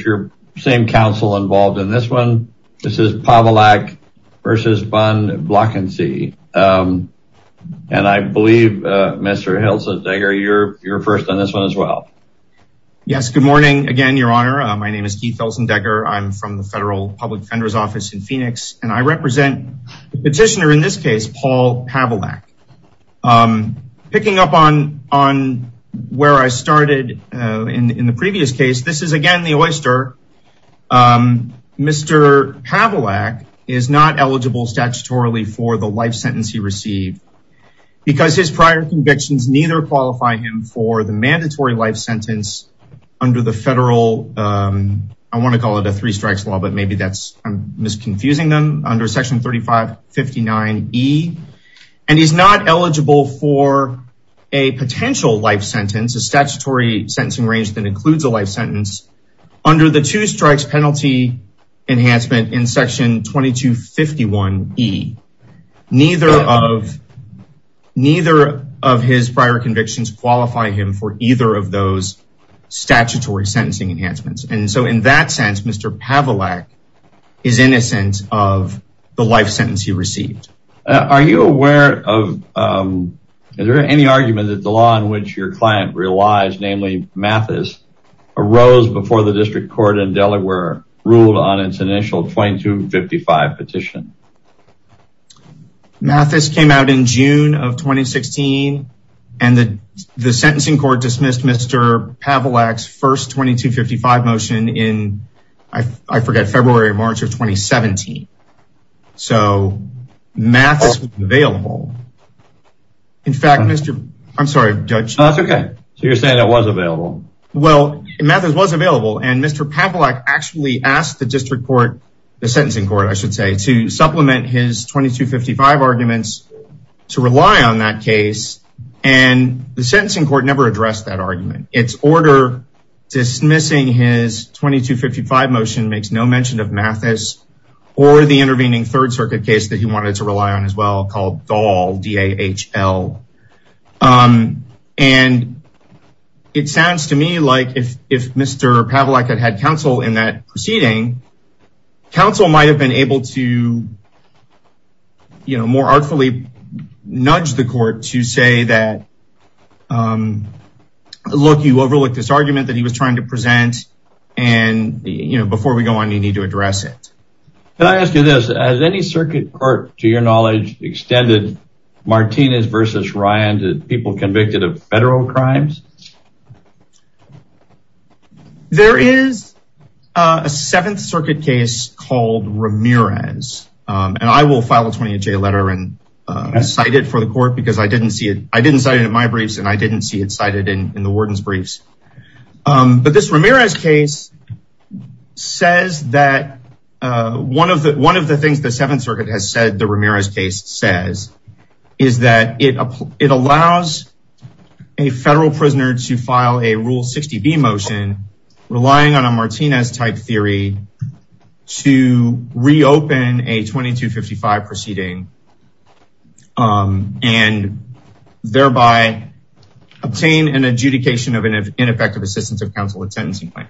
Your same counsel involved in this one. This is Pavulak versus von Blanckensee. And I believe, Mr. Helsedegger, you're you're first on this one as well. Yes, good morning. Again, Your Honor. My name is Keith Helsedegger. I'm from the Federal Public Defender's Office in Phoenix, and I represent the petitioner in this case, Paul Pavulak. Picking up on where I started in the previous case, this is again the oyster. Mr. Pavulak is not eligible statutorily for the life sentence he received because his prior convictions neither qualify him for the mandatory life sentence under the federal, I want to call it and he's not eligible for a potential life sentence, a statutory sentencing range that includes a life sentence under the two strikes penalty enhancement in section 2251E. Neither of his prior convictions qualify him for either of those statutory sentencing enhancements. And so in that sense, Mr. Pavulak is innocent of the life sentence he received. Are you aware of, is there any argument that the law in which your client relies, namely Mathis, arose before the district court in Delaware ruled on its initial 2255 petition? Mathis came out in June of 2016 and the sentencing court dismissed Mr. Pavulak's first 2255 motion in, I forget, February or March of 2017. So Mathis was available. In fact, Mr., I'm sorry, Judge. That's okay. So you're saying it was available. Well, Mathis was available and Mr. Pavulak actually asked the district court, the sentencing court, I should say, to supplement his 2255 arguments to rely on that case. And the sentencing court never addressed that argument. Its order dismissing his 2255 motion makes no mention of Mathis or the intervening third circuit case that he wanted to rely on as well called Dahl, D-A-H-L. And it sounds to me like if Mr. Pavulak had had counsel in that proceeding, counsel might have been able to, you know, more artfully nudge the court to say that, look, you overlooked this argument that he was trying to present. And, you know, before we go on, you need to address it. Can I ask you this? Has any circuit court, to your knowledge, extended Martinez versus Ryan to people convicted of federal crimes? There is a seventh circuit case called Ramirez. And I will file a 28-J letter and cite it for the court because I didn't see it. I didn't cite it in my briefs and I didn't see it cited in the warden's briefs. But this Ramirez case says that one of the things the seventh circuit has Ramirez case says is that it allows a federal prisoner to file a Rule 60B motion relying on a Martinez-type theory to reopen a 2255 proceeding and thereby obtain an adjudication of an ineffective assistance of counsel at sentencing point.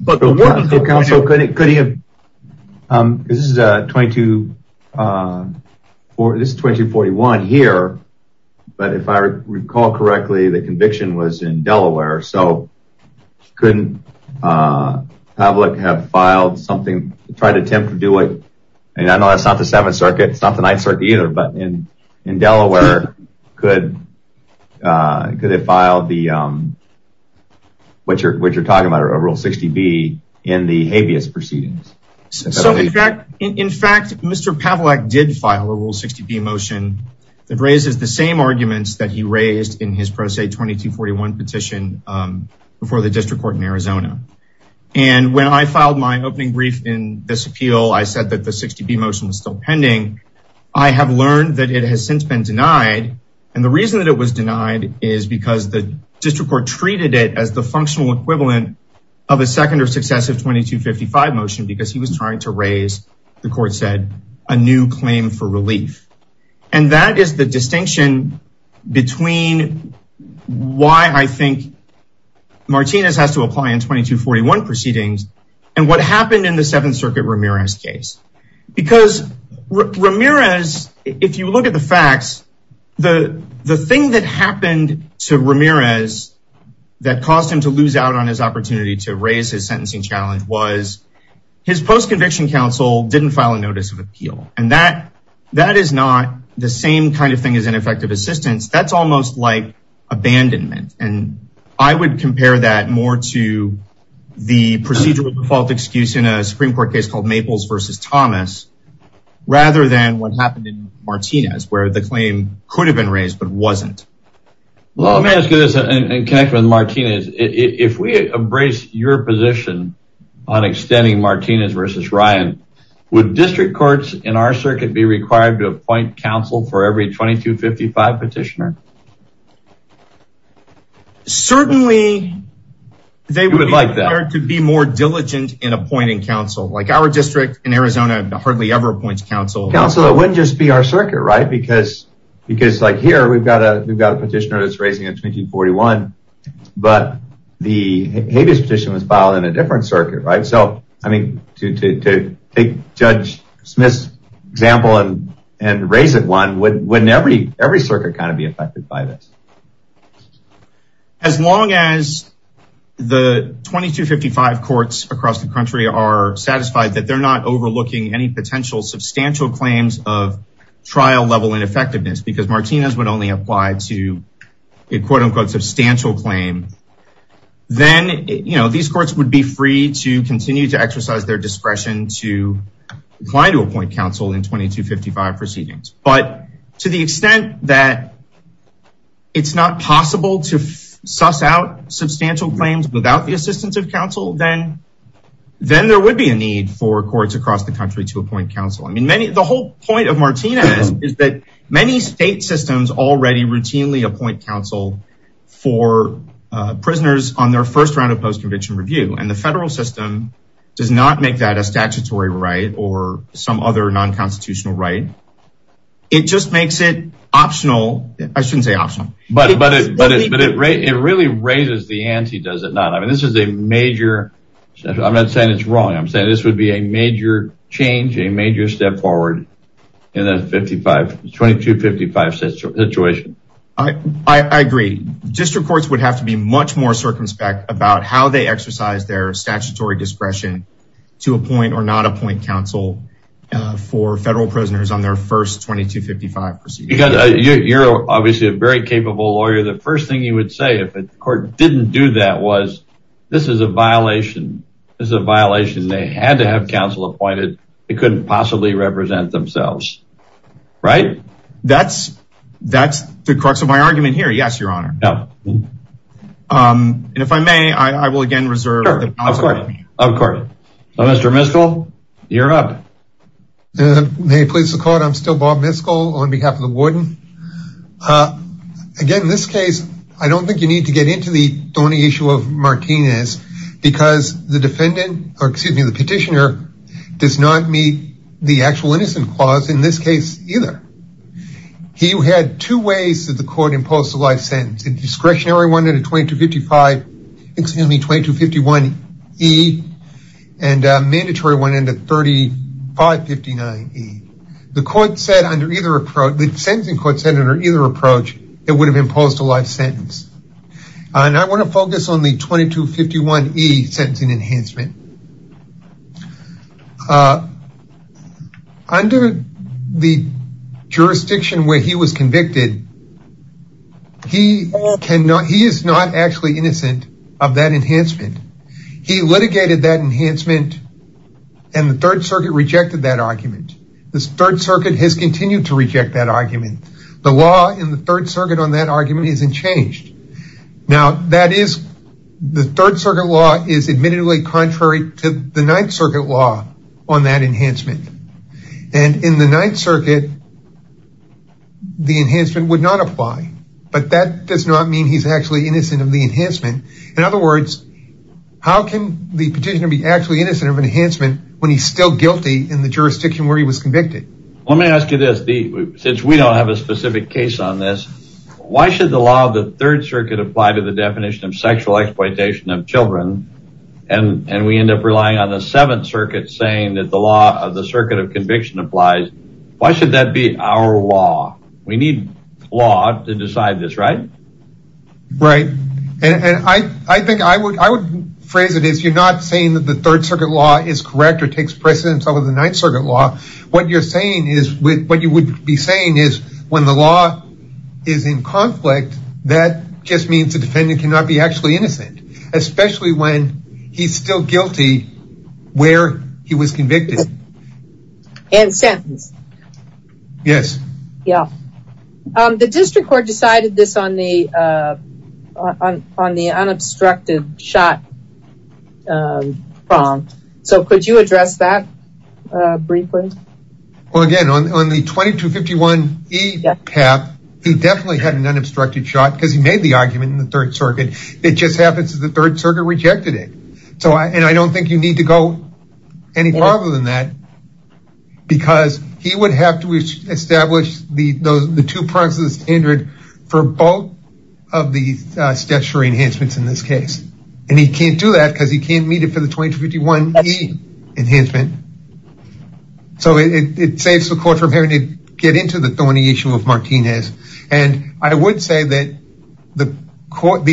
This is 2241 here, but if I recall correctly, the conviction was in Delaware, so couldn't Pavlik have filed something, tried to attempt to do it, and I know that's not the seventh circuit, it's not the ninth circuit either, but in Delaware, could they file the what you're talking about, a Rule 60B in the habeas proceedings? In fact, Mr. Pavlik did file a Rule 60B motion that raises the same arguments that he raised in his Pro Se 2241 petition before the district court in Arizona. And when I filed my opening brief in this appeal, I said that the 60B motion was still pending. I have learned that it has been denied, and the reason that it was denied is because the district court treated it as the functional equivalent of a second or successive 2255 motion because he was trying to raise, the court said, a new claim for relief. And that is the distinction between why I think Martinez has to apply in 2241 proceedings and what happened in the seventh circuit Ramirez case. Because Ramirez, if you look at the facts, the thing that happened to Ramirez that caused him to lose out on his opportunity to raise his sentencing challenge was his post-conviction counsel didn't file a notice of appeal. And that is not the same kind of thing as ineffective assistance, that's almost like abandonment. And I would compare that more to the procedural default in a Supreme Court case called Maples v. Thomas, rather than what happened in Martinez, where the claim could have been raised but wasn't. Well, let me ask you this and connect with Martinez. If we embrace your position on extending Martinez v. Ryan, would district courts in our circuit be required to appoint counsel for every 2255 petitioner? Certainly, they would like to be more diligent in appointing counsel. Like our district in Arizona hardly ever appoints counsel. Counsel, it wouldn't just be our circuit, right? Because like here, we've got a petitioner that's raising a 2241, but the habeas petition was filed in a different circuit, right? So, I mean, to take Judge Smith's example and raise it one, wouldn't every circuit kind of be affected by this? As long as the 2255 courts across the country are satisfied that they're not overlooking any potential substantial claims of trial level ineffectiveness, because Martinez would only apply to a quote-unquote substantial claim, then these courts would be free to continue to exercise their discretion to apply to appoint counsel in 2255 proceedings. But to the extent that it's not possible to suss out substantial claims without the assistance of counsel, then there would be a need for courts across the country to appoint counsel. I mean, the whole point of Martinez is that many state systems already routinely appoint counsel for prisoners on their first round of post-conviction review, and the federal system does not make that a statutory right or some other non-constitutional right. It just makes it I shouldn't say optional. But it really raises the ante, does it not? I mean, this is a major, I'm not saying it's wrong, I'm saying this would be a major change, a major step forward in the 2255 situation. I agree. District courts would have to be much more circumspect about how they exercise their statutory discretion to appoint or not appoint counsel for federal prisoners on their first 2255 proceedings. Because you're obviously a very capable lawyer, the first thing you would say if a court didn't do that was, this is a violation, this is a violation they had to have counsel appointed, they couldn't possibly represent themselves, right? That's the crux of my argument here, yes, your honor. And if I may, I will again please the court, I'm still Bob Miskell on behalf of the warden. Again, in this case, I don't think you need to get into the thorny issue of Martinez, because the defendant, or excuse me, the petitioner does not meet the actual innocent clause in this case either. He had two ways that the court imposed the life sentence, a discretionary one at a 2255, excuse me, 2251e, and a mandatory one in the 3559e. The court said under either approach, the sentencing court said under either approach, it would have imposed a life sentence. And I want to focus on the 2251e sentencing enhancement. Under the jurisdiction where he was convicted, he is not actually innocent of that enhancement. He litigated that enhancement, and the third circuit rejected that argument. The third circuit has continued to reject that argument. The law in the third circuit on that argument isn't changed. Now that is, the third circuit law is admittedly contrary to the ninth circuit law on that enhancement. And in the ninth circuit, the enhancement would not apply. But that does not mean he's actually innocent of the enhancement. In other words, how can the petitioner be actually innocent of enhancement when he's still guilty in the jurisdiction where he was convicted? Let me ask you this. Since we don't have a specific case on this, why should the law of the third circuit apply to the definition of sexual exploitation of children, and we end up relying on the seventh circuit saying that the law of the circuit of conviction applies? Why should that be our law? We need law to decide this, right? Right. And I think I would phrase it as you're not saying that the third circuit law is correct or takes precedence over the ninth circuit law. What you're saying is with what you would be saying is when the law is in conflict, that just means the defendant cannot be actually innocent, especially when he's still guilty where he was Yeah. The district court decided this on the unobstructed shot form. So could you address that briefly? Well, again, on the 2251-E path, he definitely had an unobstructed shot because he made the argument in the third circuit. It just happens that the third circuit rejected it. And I don't think you need to go any farther than that because he would have to establish the two parts of the standard for both of the statutory enhancements in this case. And he can't do that because he can't meet it for the 2251-E enhancement. So it saves the court from having to get into the thorny issue of Martinez. And I would say that the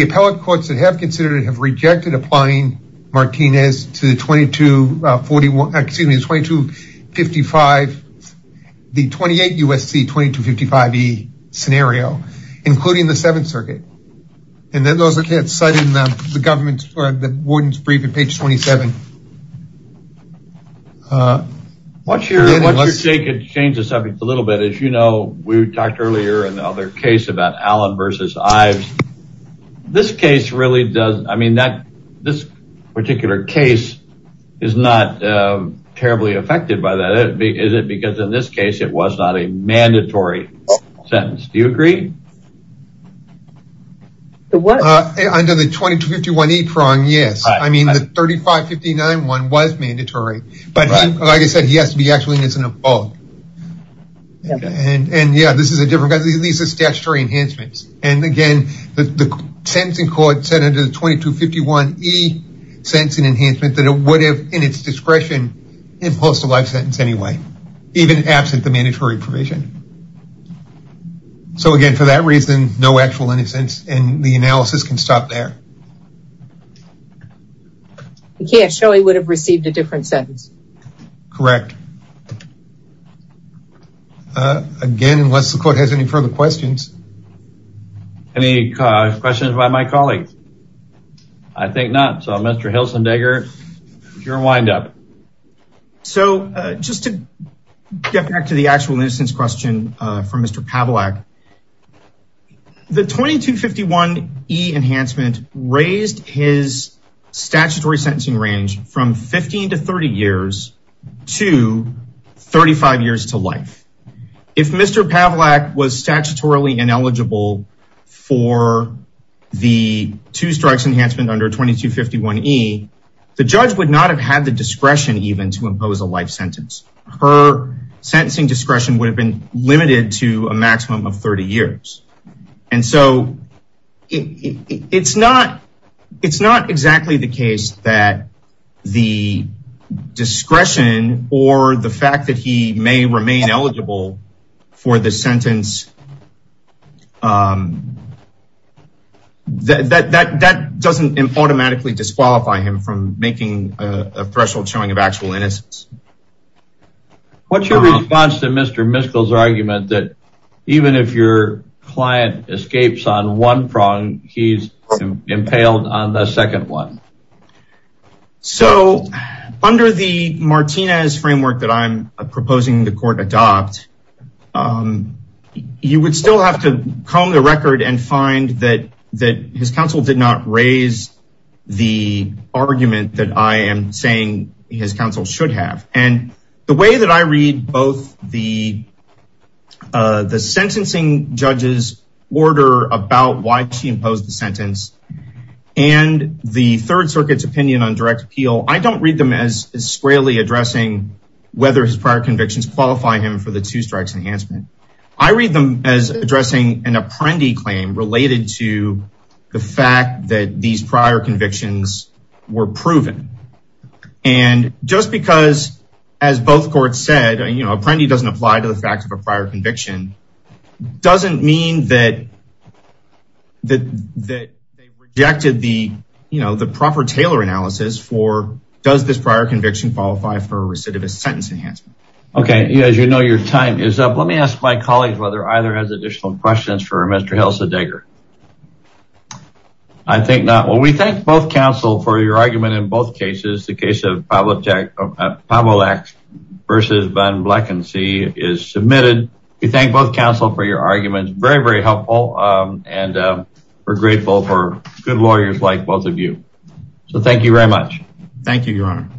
appellate courts that have considered it have rejected applying Martinez to the 2255-E scenario, including the seventh circuit. And then those are cited in the government's brief on page 27. Watch your shake and change the subject a little bit. As you know, we talked earlier in the other case about Allen versus Ives. This particular case is not terribly affected by that. Is it because in this case it was not a mandatory sentence? Do you agree? Under the 2251-E prong, yes. I mean, the 3559 one was mandatory. But like I said, he has to be actually innocent of fault. And yeah, this is a different guy. These are statutory enhancements. And again, the sentencing court said under the 2251-E sentencing enhancement that it would have, in its discretion, imposed a life sentence anyway, even absent the mandatory provision. So again, for that reason, no actual innocence. And the analysis can stop there. Okay. I'm sure he would have received a different sentence. Correct. Again, unless the court has any further questions. Any questions by my colleagues? I think not. So Mr. Hilsendecker, you're wind up. So just to get back to the actual question from Mr. Pavlak, the 2251-E enhancement raised his statutory sentencing range from 15 to 30 years to 35 years to life. If Mr. Pavlak was statutorily ineligible for the two strikes enhancement under 2251-E, the judge would not have had the discretion even to impose a life sentence. Her sentencing discretion would have been limited to a maximum of 30 years. And so it's not exactly the case that the discretion or the fact that he may remain eligible for the sentence, that doesn't automatically disqualify him from making a threshold showing of actual innocence. What's your response to Mr. Miskell's argument that even if your client escapes on one prong, he's impaled on the second one? So under the Martinez framework that I'm proposing the court adopt, you would still have to comb the record and find that his counsel did not raise the argument that I am saying his counsel should have. And the way that I read both the sentencing judge's order about why she imposed the sentence and the third circuit's opinion on direct appeal, I don't read them as squarely addressing whether his prior convictions qualify him for the two strikes enhancement. I read them as addressing an apprendee claim related to the fact that these prior convictions were proven. And just because as both courts said, you know, apprendee doesn't apply to the fact of a prior conviction, doesn't mean that that they rejected the, you know, the proper Taylor analysis for does this prior conviction qualify for a recidivist sentence enhancement? Okay, as you know, your time is up. Let me ask my colleagues whether either has additional questions for Mr. Hilsa Degger. I think not. Well, we thank both counsel for your argument in both cases, the case of Pavelak versus Van Vleckenzee is submitted. We thank both counsel for your arguments. Very, very helpful. And we're grateful for good lawyers like both of you. So thank you very much. Thank you, Your Honor.